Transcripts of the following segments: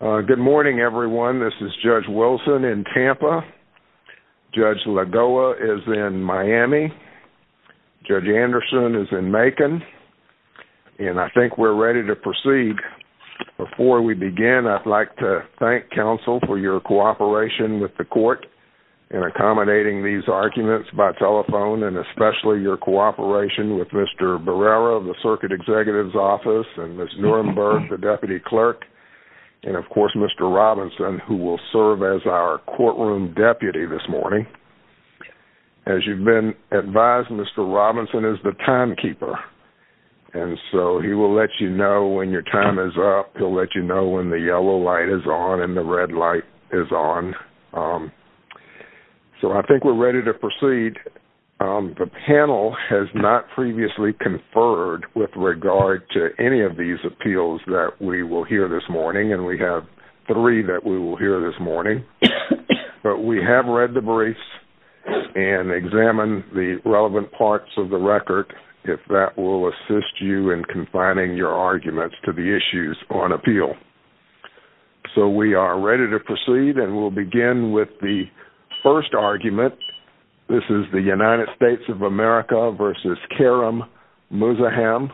Good morning, everyone. This is Judge Wilson in Tampa. Judge Lagoa is in Miami. Judge Anderson is in Macon. And I think we're ready to proceed. Before we begin, I'd like to thank counsel for your cooperation with the court in accommodating these arguments by telephone, and especially your cooperation with Mr. Barrera of the Circuit Executive's Office and Ms. Nuremberg, the Deputy Clerk. And of course, Mr. Robinson, who will serve as our courtroom deputy this morning. As you've been advised, Mr. Robinson is the timekeeper. And so he will let you know when your time is up. He'll let you know when the yellow light is on and the red light is on. So I think we're ready to proceed. The panel has not previously conferred with regard to any of these appeals that we will hear this morning. And we have three that we will hear this morning. But we have read the briefs and examined the relevant parts of the record, if that will assist you in confining your arguments to the issues on appeal. So we are ready to proceed and we'll begin with the first argument. This is the United States of America versus Kerim Muzaham.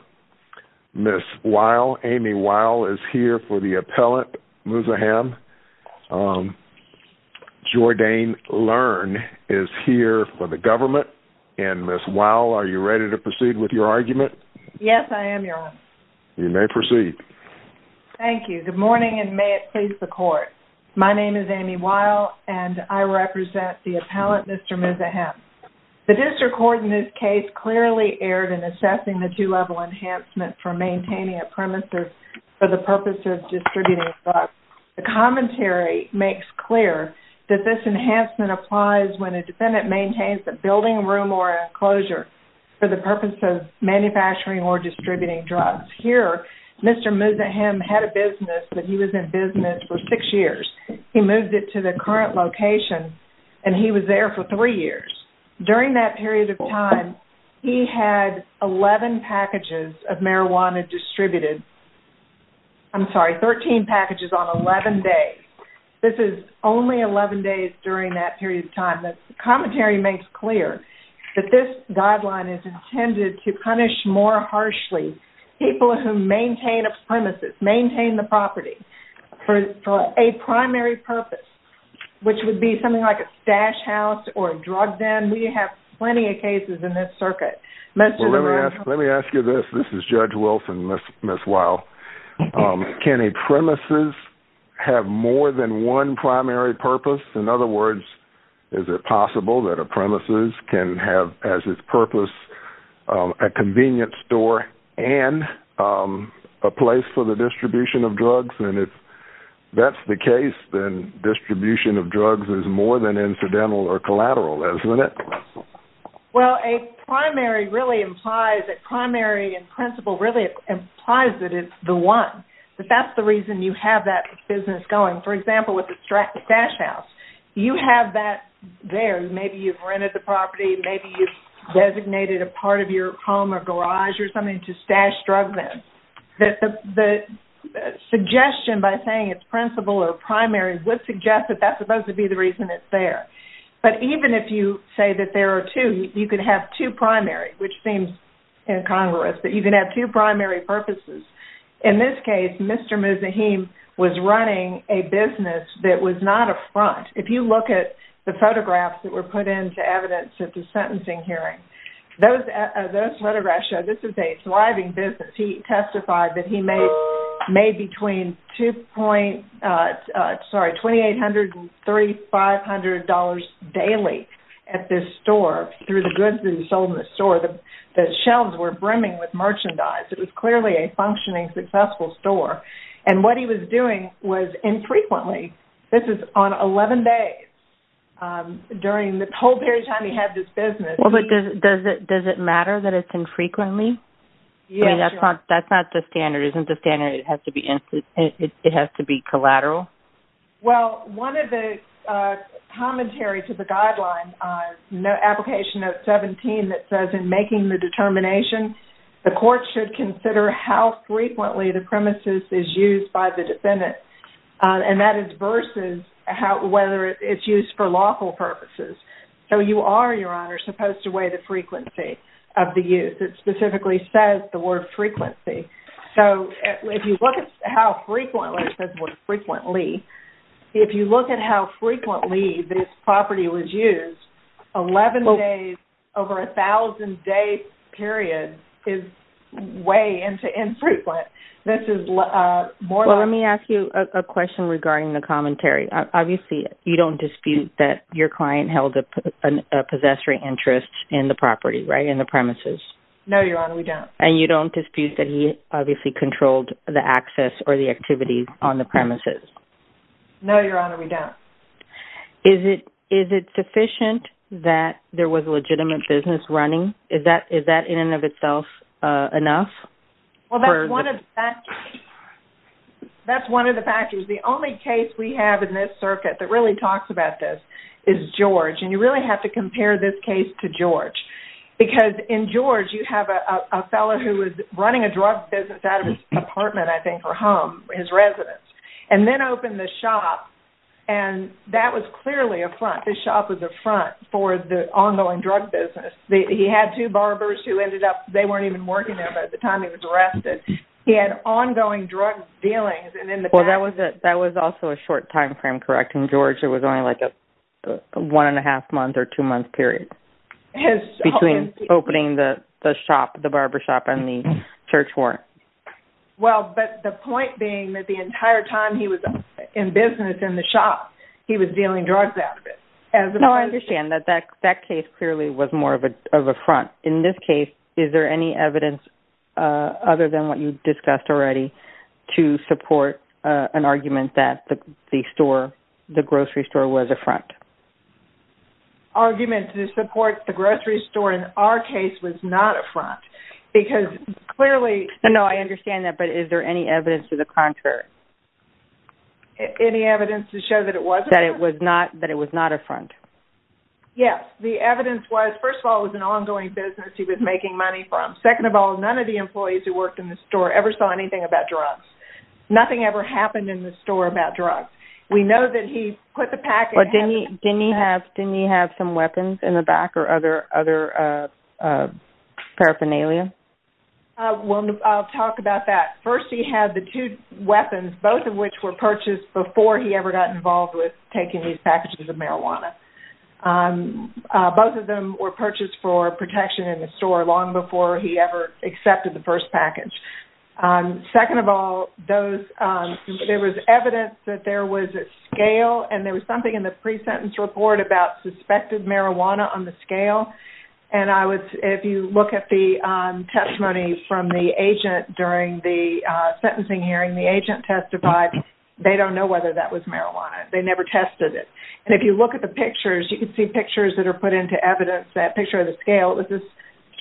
Ms. Weil, Amy Weil is here for the appellant, Muzaham. Jordane Learn is here for the government. And Ms. Weil, are you ready to proceed with your argument? Yes, I am, Your Honor. You may proceed. Thank you. Good morning and may it please the court. My name is Amy Weil and I represent the appellant, Mr. Muzaham. The district court in this case clearly erred in assessing the two-level enhancement for maintaining a premises for the purpose of distributing drugs. The commentary makes clear that this enhancement applies when a defendant maintains a building, room, or enclosure for the purpose of manufacturing or distributing drugs. Here, Mr. Muzaham had a business, but he was in business for six years. He moved it to the current location and he was there for three years. During that period of time, he had 11 packages of marijuana distributed. I'm sorry, 13 packages on 11 days. This is only 11 days during that period of time. The commentary makes clear that this guideline is intended to punish more harshly people who maintain a premises, maintain the property for a primary purpose, which would be something like a stash house or a drug den. We have plenty of cases in this circuit. Let me ask you this. This is Judge Wilson, Ms. Weil. Can a premises have more than one primary purpose? In other words, is it possible that a premises can have, as its purpose, a convenience store and a place for the distribution of drugs? If that's the case, then distribution of drugs is more than incidental or collateral, isn't it? Well, a primary really implies that primary in principle really implies that it's the one, that that's the reason you have that business going. For example, with the stash house, you have that there. Maybe you've rented the property. Maybe you've designated a part of your home or garage or something to stash drugs in. The suggestion by saying it's principle or primary would suggest that that's supposed to be the reason it's there. But even if you say that there are two, you could have two primary, which seems incongruous, but you can have two primary purposes. In this case, Mr. Muzahim was running a business that was not a front. If you look at the photographs that were put into evidence at the sentencing hearing, those photographs show this is a thriving business. He testified that he made between $2,800 and $3,500 daily at this store through the goods that he sold in the store. The shelves were brimming with merchandise. It was clearly a functioning, successful store. What he was doing was infrequently. This is on 11 days during the whole period of time he had this business. Well, but does it matter that it's infrequently? That's not the standard. Isn't the standard it has to be collateral? Well, one of the commentary to the guideline, Application Note 17, that says in making the by the defendant, and that is versus whether it's used for lawful purposes. So you are, Your Honor, supposed to weigh the frequency of the use. It specifically says the word frequency. So if you look at how frequently this property was used, 11 days over a 1,000-day period is way infrequent. This is more like- Well, let me ask you a question regarding the commentary. Obviously, you don't dispute that your client held a possessory interest in the property, right, in the premises? No, Your Honor, we don't. And you don't dispute that he obviously controlled the access or the activities on the premises? No, Your Honor, we don't. Is it sufficient that there was a legitimate business running? Is that in and of itself enough? Well, that's one of the factors. The only case we have in this circuit that really talks about this is George. And you really have to compare this case to George. Because in George, you have a fellow who was running a drug business out of his apartment, I think, or home, his residence, and then opened this shop. And that was clearly a front. This shop was a front for the ongoing drug business. He had two barbers who ended up- they weren't even working there by the time he was arrested. He had ongoing drug dealings. And in the past- Well, that was also a short timeframe, correct? In George, it was only like a one and a half month or two month period between opening the shop, the barber shop, and the church floor. Well, but the point being that the entire time he was in business in the shop, he was dealing drugs out of it. No, I understand that that case clearly was more of a front. In this case, is there any evidence other than what you discussed already to support an argument that the store, the grocery store, was a front? Argument to support the grocery store in our case was not a front. Because clearly- No, I understand that. But is there any evidence to the contrary? Any evidence to show that it wasn't? That it was not a front? Yes. The evidence was, first of all, it was an ongoing business he was making money from. Second of all, none of the employees who worked in the store ever saw anything about drugs. Nothing ever happened in the store about drugs. We know that he put the pack- But didn't he have some weapons in the back or other paraphernalia? I'll talk about that. First, he had the two weapons, both of which were purchased before he ever got involved with taking these packages of marijuana. Both of them were purchased for protection in the store long before he ever accepted the first package. Second of all, there was evidence that there was a scale and there was something in the pre-sentence report about suspected marijuana on the scale. And if you look at the testimony from the agent during the sentencing hearing, the agent testified they don't know whether that was marijuana. They never tested it. And if you look at the pictures, you can see pictures that are put into evidence, that picture of the scale. It was this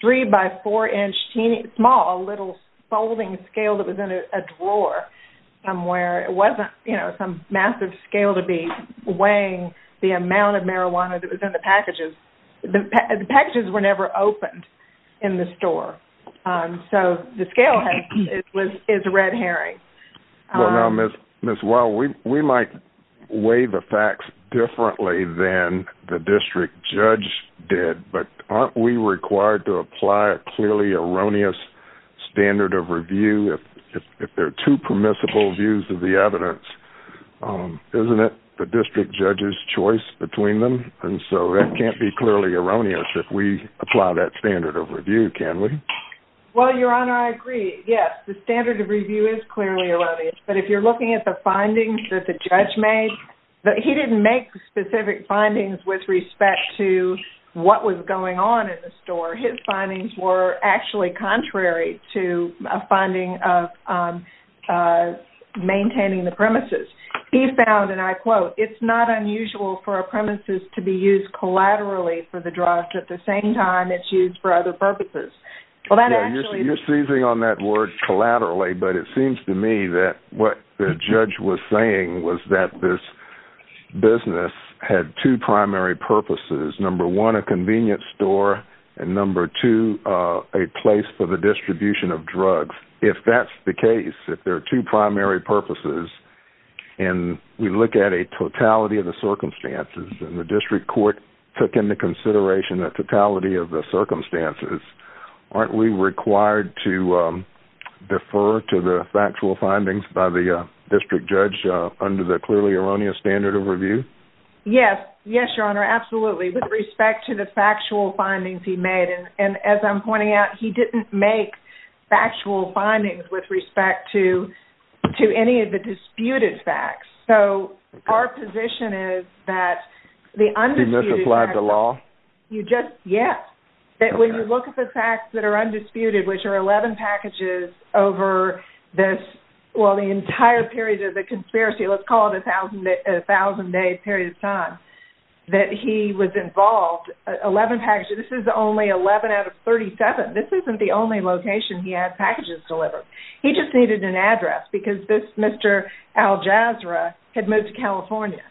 three-by-four-inch, small little folding scale that was in a drawer somewhere. It wasn't some massive scale to be weighing the amount of marijuana that was in the packages. The packages were never opened in the store. So the scale is red herring. Well, now, Ms. Wall, we might weigh the facts differently than the district judge did. But aren't we required to apply a clearly erroneous standard of review if there are two permissible views of the evidence? Isn't it the district judge's choice between them? And so that can't be clearly erroneous if we apply that standard of review, can we? Well, Your Honor, I agree. Yes, the standard of review is clearly erroneous. But if you're looking at the findings that the judge made, he didn't make specific findings with respect to what was going on in the store. His findings were actually contrary to a finding of maintaining the premises. He found, and I quote, it's not unusual for a premises to be used collaterally for the drug. At the same time, it's used for other purposes. Well, you're seizing on that word collaterally. But it seems to me that what the judge was saying was that this business had two primary purposes. Number one, a convenience store. And number two, a place for the distribution of drugs. If that's the case, if there are two primary purposes and we look at a totality of the circumstances and the district court took into consideration the totality of the circumstances, aren't we required to defer to the factual findings by the district judge under the clearly erroneous standard of review? Yes. Yes, Your Honor. Absolutely. With respect to the factual findings he made. And as I'm pointing out, he didn't make factual findings with respect to any of the disputed facts. So our position is that the undisputed facts... He misapplied the law? Yes. That when you look at the facts that are undisputed, which are 11 packages over this, well, the entire period of the conspiracy, let's call it a thousand-day period of time, that he was involved, 11 packages. This is only 11 out of 37. This isn't the only location he had packages delivered. He just needed an address because this Mr. Al-Jazra had moved to California.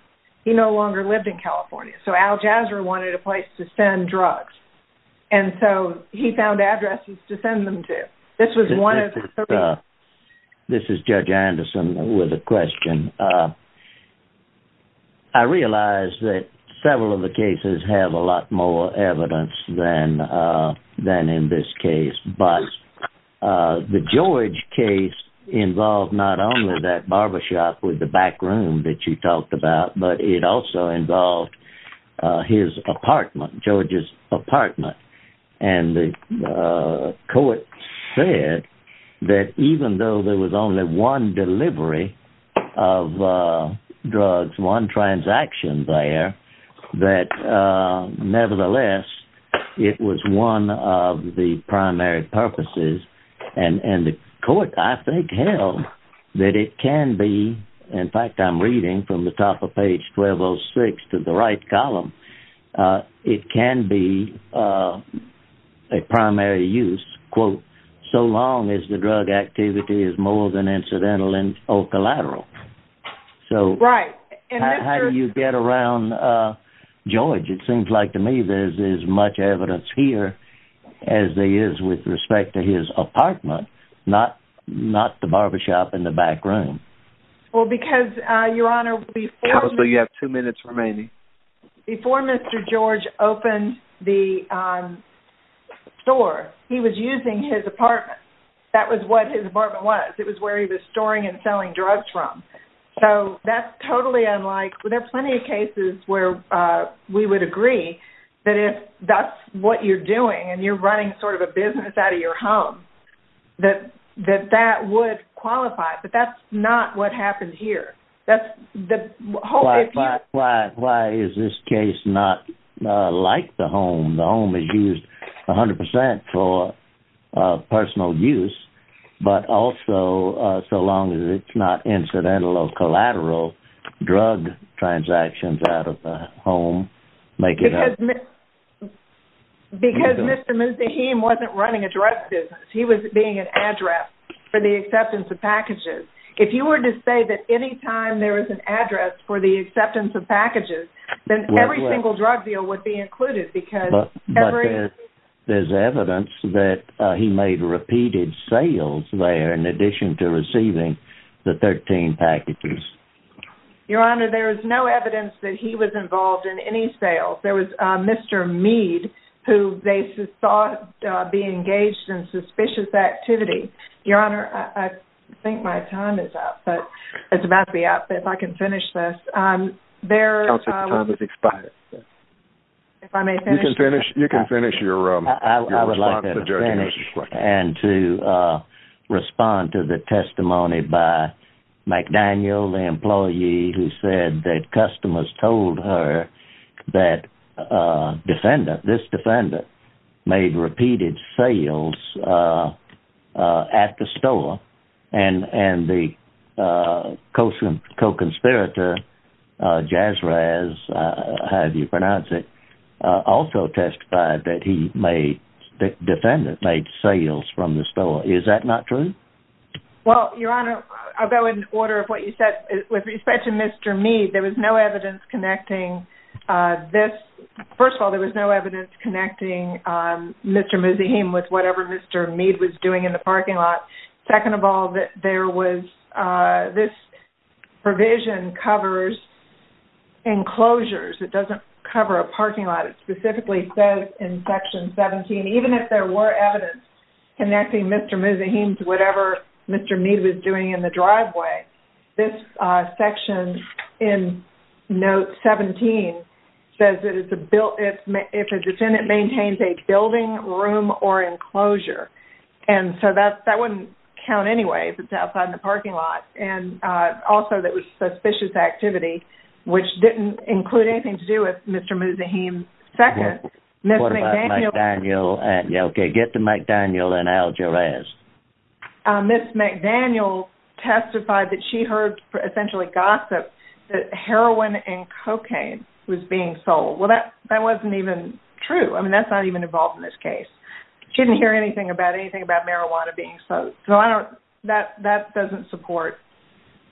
He no longer lived in California. So Al-Jazra wanted a place to send drugs. And so he found addresses to send them to. This was one of the reasons... This is Judge Anderson with a question. I realize that several of the cases have a lot more evidence than in this case, but the George case involved not only that barbershop with the back room that you talked about, but it also involved his apartment, George's apartment. And the court said that even though there was only one delivery of drugs, one transaction there, that nevertheless, it was one of the primary purposes. And the court, I think, held that it can be... Page 1206 to the right column. It can be a primary use, quote, so long as the drug activity is more than incidental and or collateral. So how do you get around George? It seems like to me, there's as much evidence here as there is with respect to his apartment, not the barbershop in the back room. Well, because, Your Honor, before... Counsel, you have two minutes remaining. Before Mr. George opened the store, he was using his apartment. That was what his apartment was. It was where he was storing and selling drugs from. So that's totally unlike... There are plenty of cases where we would agree that if that's what you're doing, and you're running sort of a business out of your home, that that would qualify. But that's not what happened here. Why is this case not like the home? The home is used 100% for personal use, but also so long as it's not incidental or collateral, drug transactions out of the home make it... Because Mr. Muzdahim wasn't running a drug business. He was being an address for the acceptance of packages. If you were to say that anytime there is an address for the acceptance of packages, then every single drug deal would be included because... There's evidence that he made repeated sales there, in addition to receiving the 13 packages. Your Honor, there is no evidence that he was involved in any sales. There was Mr. Mead, who they thought be engaged in suspicious activity. Your Honor, I think my time is up, but it's about to be up. If I can finish this. You can finish your response to the judge's question. I would like to finish and to respond to the testimony by McDaniel, the employee who said that customers told her that this defendant made repeated sales at the store. And the co-conspirator, Jasrez, however you pronounce it, also testified that the defendant made sales from the store. Is that not true? Well, Your Honor, I'll go in order of what you said. With respect to Mr. Mead, there was no evidence connecting this. First of all, there was no evidence connecting Mr. Muzahim with whatever Mr. Mead was doing in the parking lot. Second of all, this provision covers enclosures. It doesn't cover a parking lot. It specifically says in Section 17, even if there were evidence connecting Mr. Muzahim to whatever Mr. Mead was doing in the driveway, this section in Note 17 says that if a defendant maintains a building, room, or enclosure. And so that wouldn't count anyway if it's outside in the parking lot. And also there was suspicious activity, which didn't include anything to do with Mr. Muzahim. Second, Ms. McDaniel testified that she heard essentially gossip that heroin and cocaine was being sold. Well, that wasn't even true. I mean, that's not even involved in this case. She didn't hear anything about anything about marijuana being sold. So I don't, that doesn't support,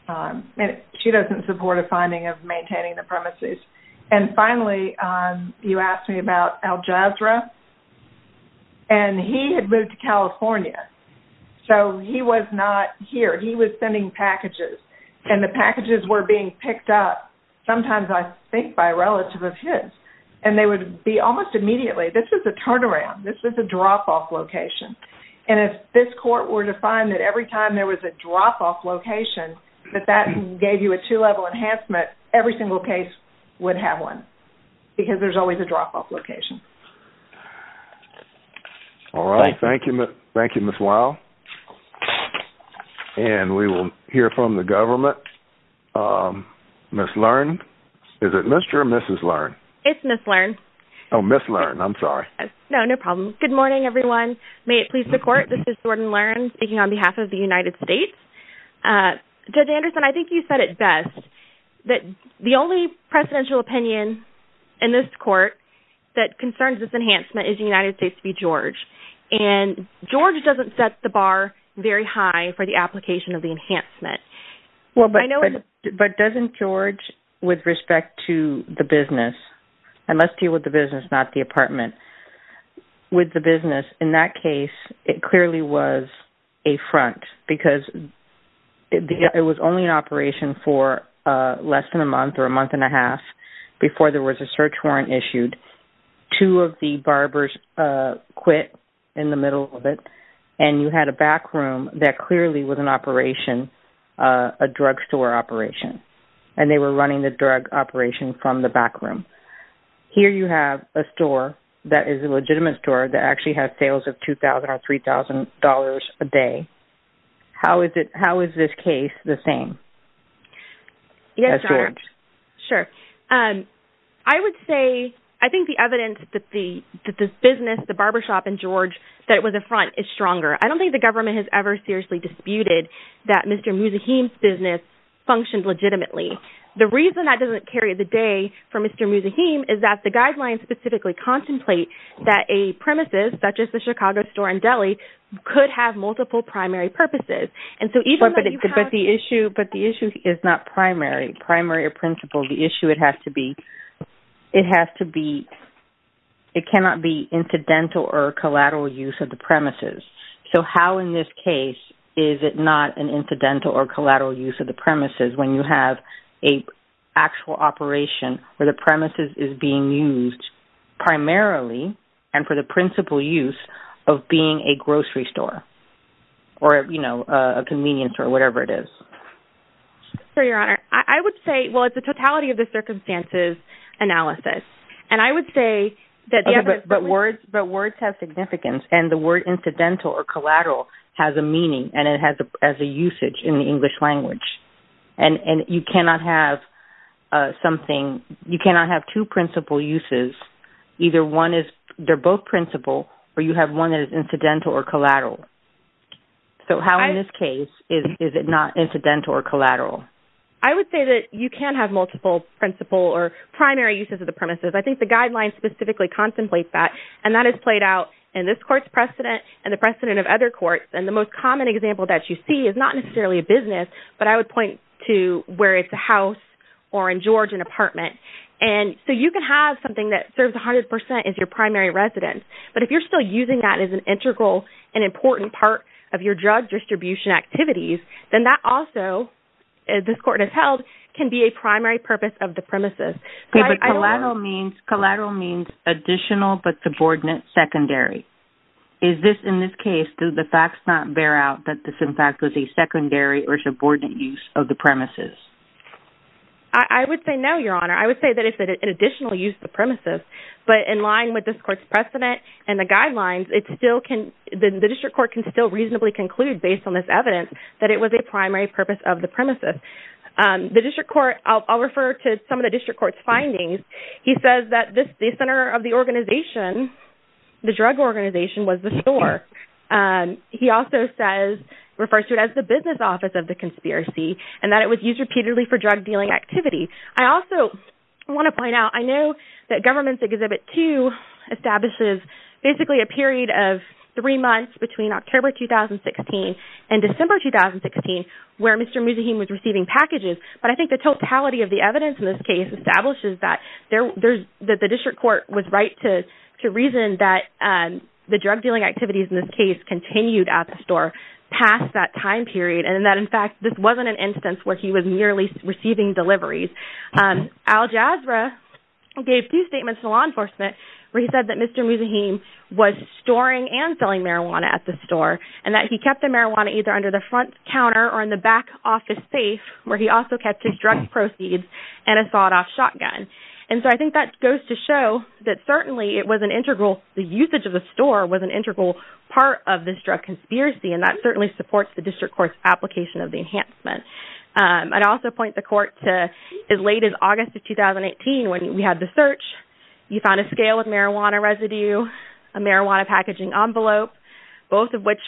she doesn't support a finding of maintaining the premises. And finally, you asked me about Al Jazra. And he had moved to California. So he was not here. He was sending packages. And the packages were being picked up, sometimes I think by a relative of his. And they would be almost immediately, this is a turnaround. This is a drop-off location. And if this court were to find that every time there was a drop-off location, that that gave you a two-level enhancement, every single case would have one. Because there's always a drop-off location. All right. Thank you. Thank you, Ms. Weil. And we will hear from the government. Ms. Lern. Is it Mr. or Mrs. Lern? It's Ms. Lern. Oh, Ms. Lern. I'm sorry. No, no problem. Good morning, everyone. May it please the court. This is Jordan Lern speaking on behalf of the United States. Judge Anderson, I think you said it best. That the only presidential opinion in this court that concerns this enhancement is the United States v. George. And George doesn't set the bar very high for the application of the enhancement. Well, but doesn't George, with respect to the business, and let's deal with the business, not the apartment. With the business, in that case, it clearly was a front. Because it was only an operation for less than a month or a month and a half before there was a search warrant issued. Two of the barbers quit in the middle of it. And you had a backroom that clearly was an operation, a drugstore operation. And they were running the drug operation from the backroom. Here you have a store that is a legitimate store that actually has sales of $2,000 or $3,000 a day. How is this case the same? Yes, sure. I would say, I think the evidence that this business, the barbershop and George, that it was a front is stronger. I don't think the government has ever seriously disputed that Mr. Muzahim's business functioned legitimately. The reason that doesn't carry the day for Mr. Muzahim is that the guidelines specifically contemplate that a premises, such as the Chicago store and deli, could have multiple primary purposes. And so even though you have... But the issue is not primary, primary or principal. The issue, it has to be, it cannot be incidental or collateral use of the premises. So how in this case is it not an incidental or collateral use of the premises when you have an actual operation where the premises is being used primarily and for the principal use of being a grocery store or, you know, a convenience or whatever it is? Sure, Your Honor. I would say, well, it's a totality of the circumstances analysis. And I would say that... Okay, but words have significance and the word incidental or collateral has a meaning and it has a usage in the English language. And you cannot have something, you cannot have two principal uses. Either one is, they're both principal or you have one that is incidental or collateral. So how in this case is it not incidental or collateral? I would say that you can have multiple principal or primary uses of the premises. I think the guidelines specifically contemplate that. And that is played out in this court's precedent and the precedent of other courts. And the most common example that you see is not necessarily a business, but I would point to where it's a house or in Georgia an apartment. And so you can have something that serves 100% as your primary residence. But if you're still using that as an integral and important part of your drug distribution activities, then that also, as this court has held, can be a primary purpose of the premises. Okay, but collateral means additional but subordinate secondary. Is this, in this case, do the facts not bear out that this, in fact, was a secondary or subordinate use of the premises? I would say no, Your Honor. I would say that it's an additional use of the premises. But in line with this court's precedent and the guidelines, it still can, the district court can still reasonably conclude, based on this evidence, that it was a primary purpose of the premises. The district court, I'll refer to some of the district court's findings. He says that the center of the organization, the drug organization, was the store. He also says, refers to it as the business office of the conspiracy, and that it was used repeatedly for drug dealing activity. I also want to point out, I know that Government's Exhibit 2 establishes basically a period of three months between October 2016 and December 2016 where Mr. Muzahim was receiving packages. But I think the totality of the evidence in this case establishes that the district court was right to reason that the drug dealing activities, in this case, continued at the store past that time period, and that, in fact, this wasn't an instance where he was merely receiving deliveries. Al Jazra gave two statements to law enforcement where he said that Mr. Muzahim was storing and selling marijuana at the store, and that he kept the marijuana either under the front counter or in the back office safe, where he also kept his drug proceeds, and a sawed-off shotgun. And so I think that goes to show that certainly it was an integral, the usage of the store was an integral part of this drug conspiracy, and that certainly supports the district court's application of the enhancement. I'd also point the court to as late as August of 2018 when we had the search, you found a scale of marijuana residue, a marijuana packaging envelope, both of which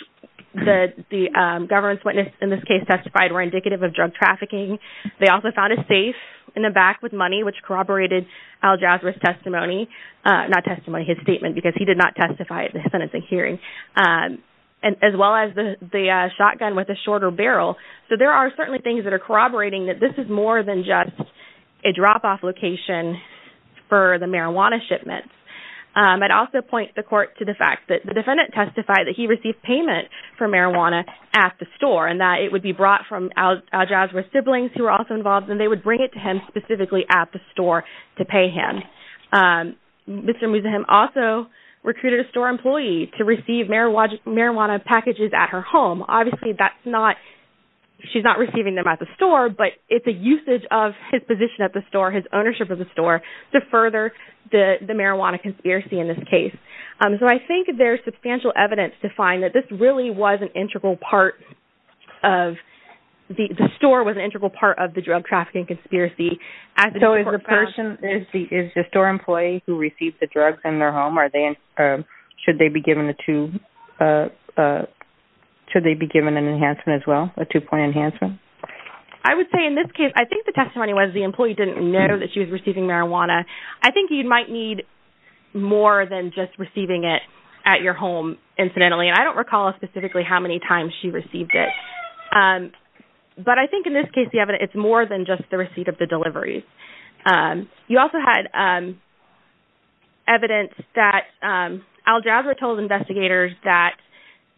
the government's witness in this case testified were indicative of drug trafficking. They also found a safe in the back with money, which corroborated Al Jazra's testimony, not testimony, his statement, because he did not testify at the sentencing hearing, as well as the shotgun with a shorter barrel. So there are certainly things that are corroborating that this is more than just a drop-off location for the marijuana shipments. I'd also point the court to the fact that the defendant testified that he received payment for marijuana at the store, and that it would be brought from Al Jazra's siblings, who were also involved, and they would bring it to him specifically at the store to pay him. Mr. Muzahim also recruited a store employee to receive marijuana packages at her home. Obviously, that's not, she's not receiving them at the store, but it's a usage of his position at the store, his ownership of the store, to further the marijuana conspiracy in this case. So I think there's substantial evidence to find that this really was an integral part of, the store was an integral part of the drug trafficking conspiracy. So is the store employee who received the drugs in their home, are they, should they be given a two, should they be given an enhancement as well, a two-point enhancement? I would say in this case, I think the testimony was the employee didn't know that she was receiving marijuana. I think you might need more than just receiving it at your home, incidentally, and I don't recall specifically how many times she received it. But I think in this case, the evidence, it's more than just the receipt of the deliveries. You also had evidence that Al Jazeera told investigators that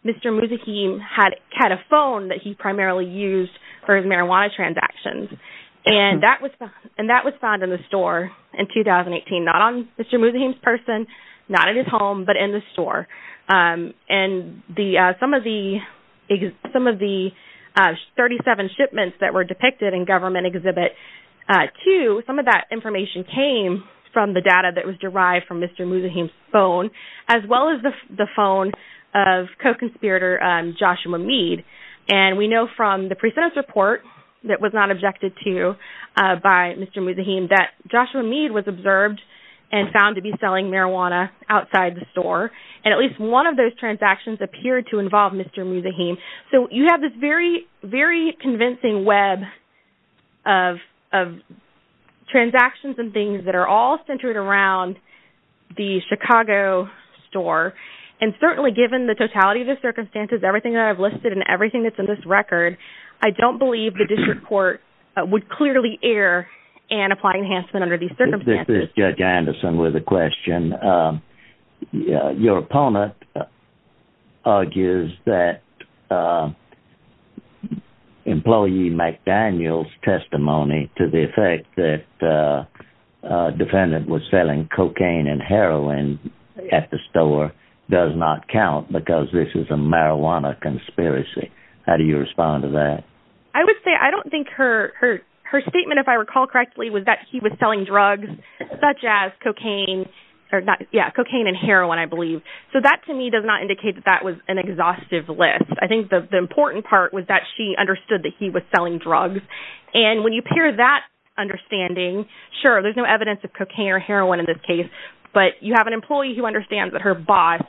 Mr. Muzahim had a phone that he primarily used for his marijuana transactions. And that was, and that was found in the store in 2018, not on Mr. Muzahim's person, not in his home, but in the store. And the, some of the, some of the 37 shipments that were depicted in Government Exhibit 2, some of that information came from the data that was derived from Mr. Muzahim's phone, as well as the phone of co-conspirator Joshua Mead. And we know from the pre-sentence report that was not objected to by Mr. Muzahim that Joshua Mead was observed and found to be selling marijuana outside the store. And at least one of those transactions appeared to involve Mr. Muzahim. So you have this very, very convincing web of transactions and things that are all centered around the Chicago store. And certainly given the totality of the circumstances, everything that I've listed and everything that's in this record, I don't believe the district court would clearly err and apply enhancement under these circumstances. Judge Anderson with a question. Your opponent argues that employee McDaniel's testimony to the effect that the defendant was selling cocaine and heroin at the store does not count because this is a marijuana conspiracy. How do you respond to that? I would say, I don't think her, her, her statement, if I recall correctly, was that he was selling drugs such as cocaine or not. Yeah. Cocaine and heroin, I believe. So that to me does not indicate that that was an exhaustive list. I think the important part was that she understood that he was selling drugs. And when you pair that understanding, sure, there's no evidence of cocaine or heroin in this case, but you have an employee who understands that her boss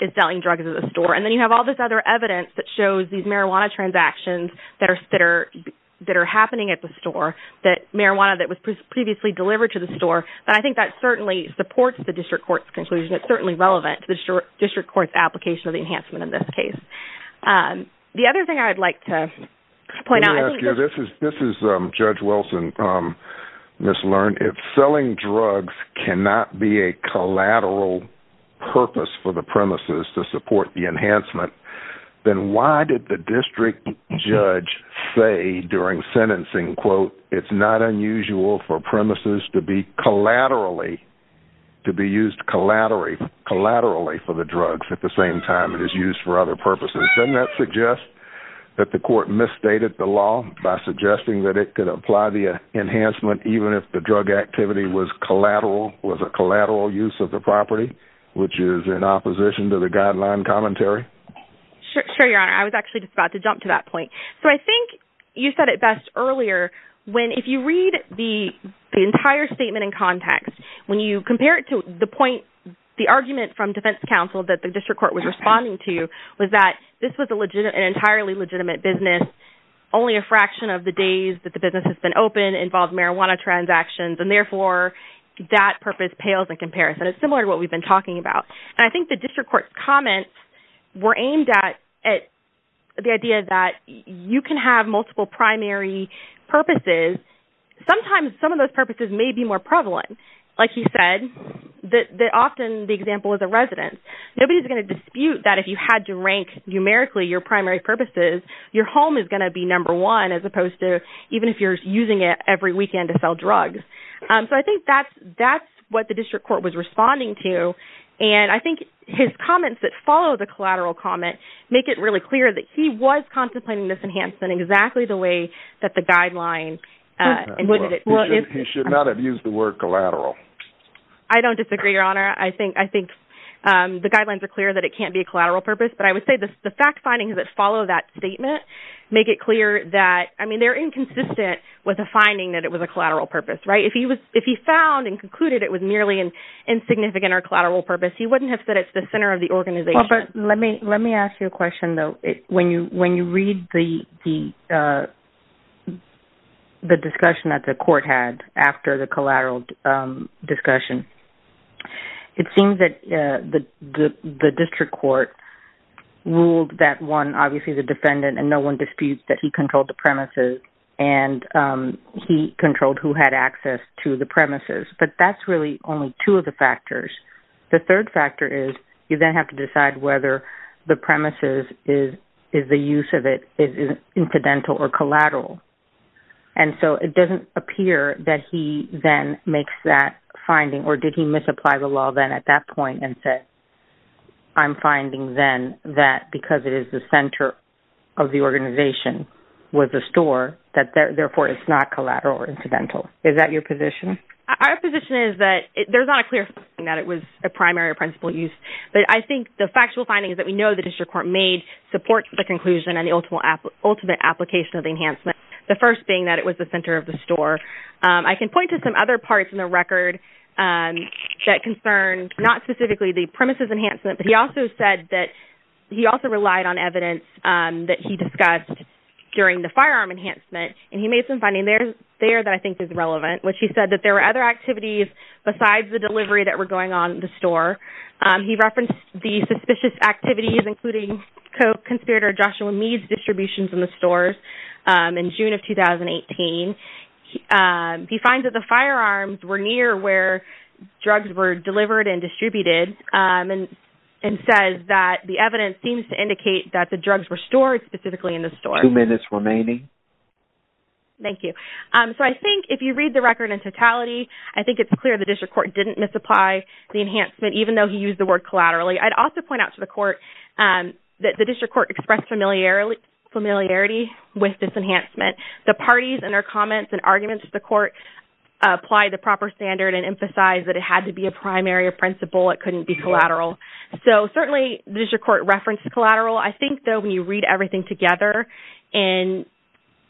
is selling drugs at the store. And then you have all this other evidence that shows these marijuana transactions that are, that are, that are happening at the store, that marijuana that was previously delivered to the store. But I think that certainly supports the district court's conclusion. It's certainly relevant to the district court's application of the enhancement in this case. The other thing I'd like to point out, this is, this is Judge Wilson, Ms. Lern. If selling drugs cannot be a collateral purpose for the premises to support the it's not unusual for premises to be collaterally, to be used collaterally, collaterally for the drugs at the same time, it is used for other purposes. Doesn't that suggest that the court misstated the law by suggesting that it could apply the enhancement, even if the drug activity was collateral, was a collateral use of the property, which is in opposition to the guideline commentary. Sure. Sure. Your honor, I was actually just about to jump to that point. So I think you said it best earlier, when, if you read the entire statement in context, when you compare it to the point, the argument from defense counsel that the district court was responding to, was that this was a legitimate, an entirely legitimate business, only a fraction of the days that the business has been open involved marijuana transactions. And therefore, that purpose pales in comparison. It's similar to what we've been talking about. And I think the district court comments were aimed at, at the idea that you can have multiple primary purposes. Sometimes some of those purposes may be more prevalent. Like you said, that often the example of the residence, nobody's going to dispute that if you had to rank numerically, your primary purposes, your home is going to be number one, as opposed to even if you're using it every weekend to sell drugs. So I think that's, that's what the district court was responding to. And I think his comments that follow the collateral comment, make it really clear that he was contemplating this enhancement exactly the way that the guideline, uh, he should not have used the word collateral. I don't disagree your honor. I think, I think, um, the guidelines are clear that it can't be a collateral purpose, but I would say this, the fact findings that follow that statement, make it clear that, I mean, they're inconsistent with a finding that it was a collateral purpose, right? If he was, if he found and concluded, it was merely an insignificant or collateral purpose, he wouldn't have said it's the center of the organization. But let me, let me ask you a question though. When you, when you read the, the, uh, the discussion that the court had after the collateral, um, discussion, it seems that, uh, the, the, the district court ruled that one, obviously the defendant and no one disputes that he controlled the premises and, um, he controlled who had access to the premises, but that's really only two of the factors. The third factor is you then have to decide whether the premises is, is the use of it is incidental or collateral. And so it doesn't appear that he then makes that finding or did he misapply the law then at that point and said, I'm finding then that because it is the center of the organization with the store that therefore it's not collateral or incidental. Is that your position? Our position is that there's not a clear thing that it was a primary or principal use, but I think the factual findings that we know the district court made supports the conclusion and the ultimate application of the enhancement. The first being that it was the center of the store. Um, I can point to some other parts in the record, um, that concern not specifically the premises enhancement, but he also said that he also relied on evidence, um, that he discussed during the firearm enhancement and he made some finding there, there that I think is relevant, which he said that there were other activities besides the delivery that were going on in the store. Um, he referenced the suspicious activities, including co-conspirator Joshua Meade's distributions in the stores, um, in June of 2018. Um, he finds that the firearms were near where drugs were delivered and distributed, um, and, and says that the evidence seems to indicate that the drugs were Thank you. Um, so I think if you read the record in totality, I think it's clear the district court didn't misapply the enhancement, even though he used the word collaterally. I'd also point out to the court, um, that the district court expressed familiarity with this enhancement, the parties and their comments and arguments to the court apply the proper standard and emphasize that it had to be a primary or principal. It couldn't be collateral. So certainly the district court referenced collateral. I think though, when you read everything together and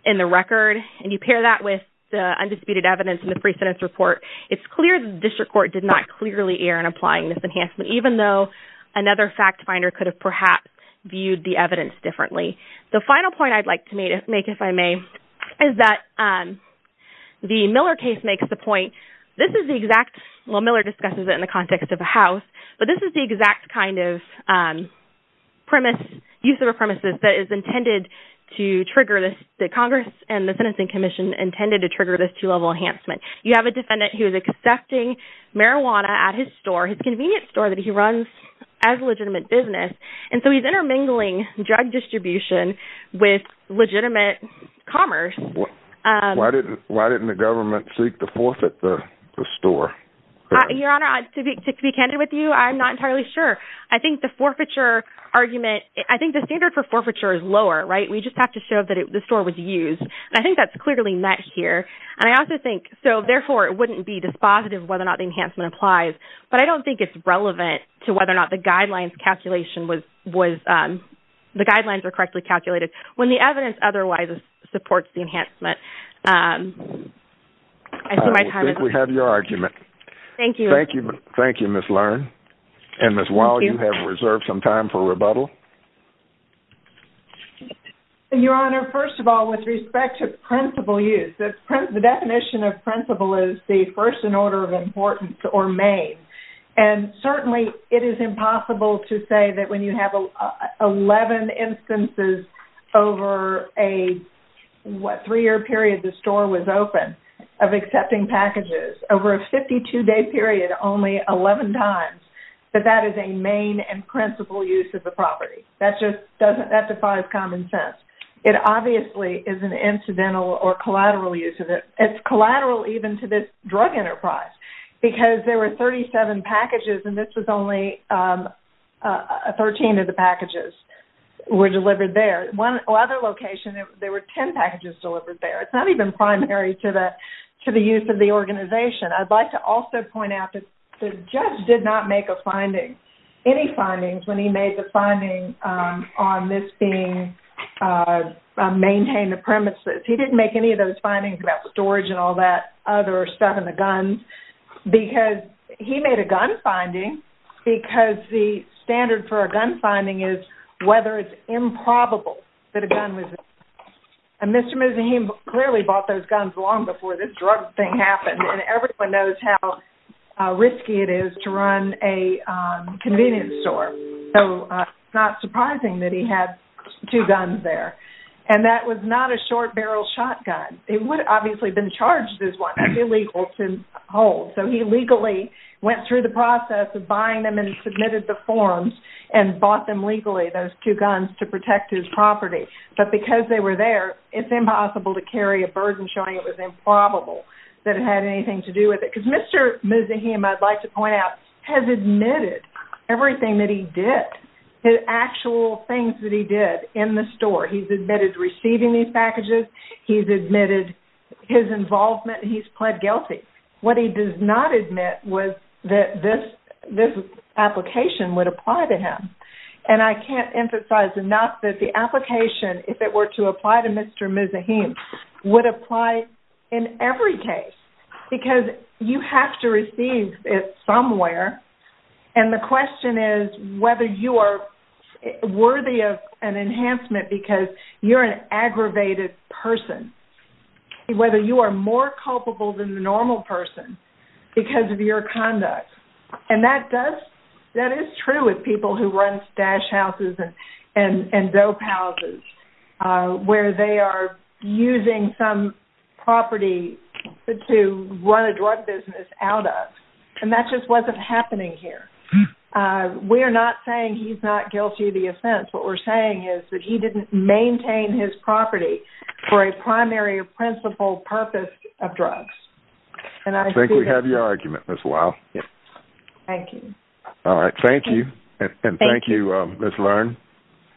in the record, and you pair that with the undisputed evidence in the pre-sentence report, it's clear that the district court did not clearly err in applying this enhancement, even though another fact finder could have perhaps viewed the evidence differently. The final point I'd like to make, if I may, is that, um, the Miller case makes the point, this is the exact, well, Miller discusses it in the context of a house, but this is the exact kind of, um, premise, use of a premises that is intended to trigger this, that Congress and the Sentencing Commission intended to trigger this two level enhancement. You have a defendant who is accepting marijuana at his store, his convenience store that he runs as a legitimate business. And so he's intermingling drug distribution with legitimate commerce. Why didn't the government seek to forfeit the store? Your Honor, to be candid with you, I'm not entirely sure. I think the forfeiture argument, I think the standard for forfeiture is lower, right? We just have to show that the store was used. And I think that's clearly met here. And I also think, so, therefore, it wouldn't be dispositive of whether or not the enhancement applies, but I don't think it's relevant to whether or not the guidelines calculation was, um, the guidelines are correctly calculated when the evidence otherwise supports the enhancement. Um, I see my time is up. We have your argument. Thank you. Thank you. Thank you, Ms. Learn. And Ms. Wall, you have reserved some time for rebuttal. Your Honor, first of all, with respect to principle use, the definition of principle is the first in order of importance or made. And certainly it is impossible to say that when you have 11 instances over a, what, three-year period the store was open of accepting packages, over a 52-day period, only 11 times, that that is a main and principle use of the property. That just doesn't, that defies common sense. It obviously is an incidental or collateral use of it. It's collateral even to this drug enterprise because there were 37 packages and this was only, um, 13 of the packages were delivered there. One other location, there were 10 packages delivered there. It's not even primary to the, to the use of the organization. I'd like to also point out that the judge did not make a finding, any findings, when he made the finding, um, on this being, uh, maintained the premises. He didn't make any of those findings about storage and all that other stuff in the guns because he made a gun finding because the standard for a gun finding is whether it's improbable that a gun was, and Mr. Musahim clearly bought those guns long before this drug thing happened and everyone knows how, uh, risky it is to run a, um, convenience store. So, uh, it's not surprising that he had two guns there. And that was not a short barrel shotgun. It would have obviously been charged as one. That's illegal to hold. So, he legally went through the process of buying them and submitted the forms and bought them legally, those two guns, to protect his property. But because they were there, it's impossible to carry a burden showing it was improbable that it had anything to do with it. Because Mr. Musahim, I'd like to point out, has admitted everything that he did, the actual things that he did in the store. He's admitted receiving these packages. He's admitted his involvement. He's pled guilty. What he does not admit was that this, this application would apply to him. And I can't emphasize enough that the application, if it were to apply to Mr. Musahim, would apply in every case because you have to receive it somewhere. And the question is whether you are worthy of an enhancement because you're an aggravated person, whether you are more culpable than the normal person because of your conduct. And that does, that is true with people who run stash houses and dope houses, where they are using some property to run a drug business out of. And that just wasn't happening here. We're not saying he's not guilty of the offense. What we're saying is that he didn't maintain his property for a primary principle purpose of drugs. And I think we have your argument, Ms. Lyle. Thank you. All right. Thank you. And thank you, Ms. Lerne.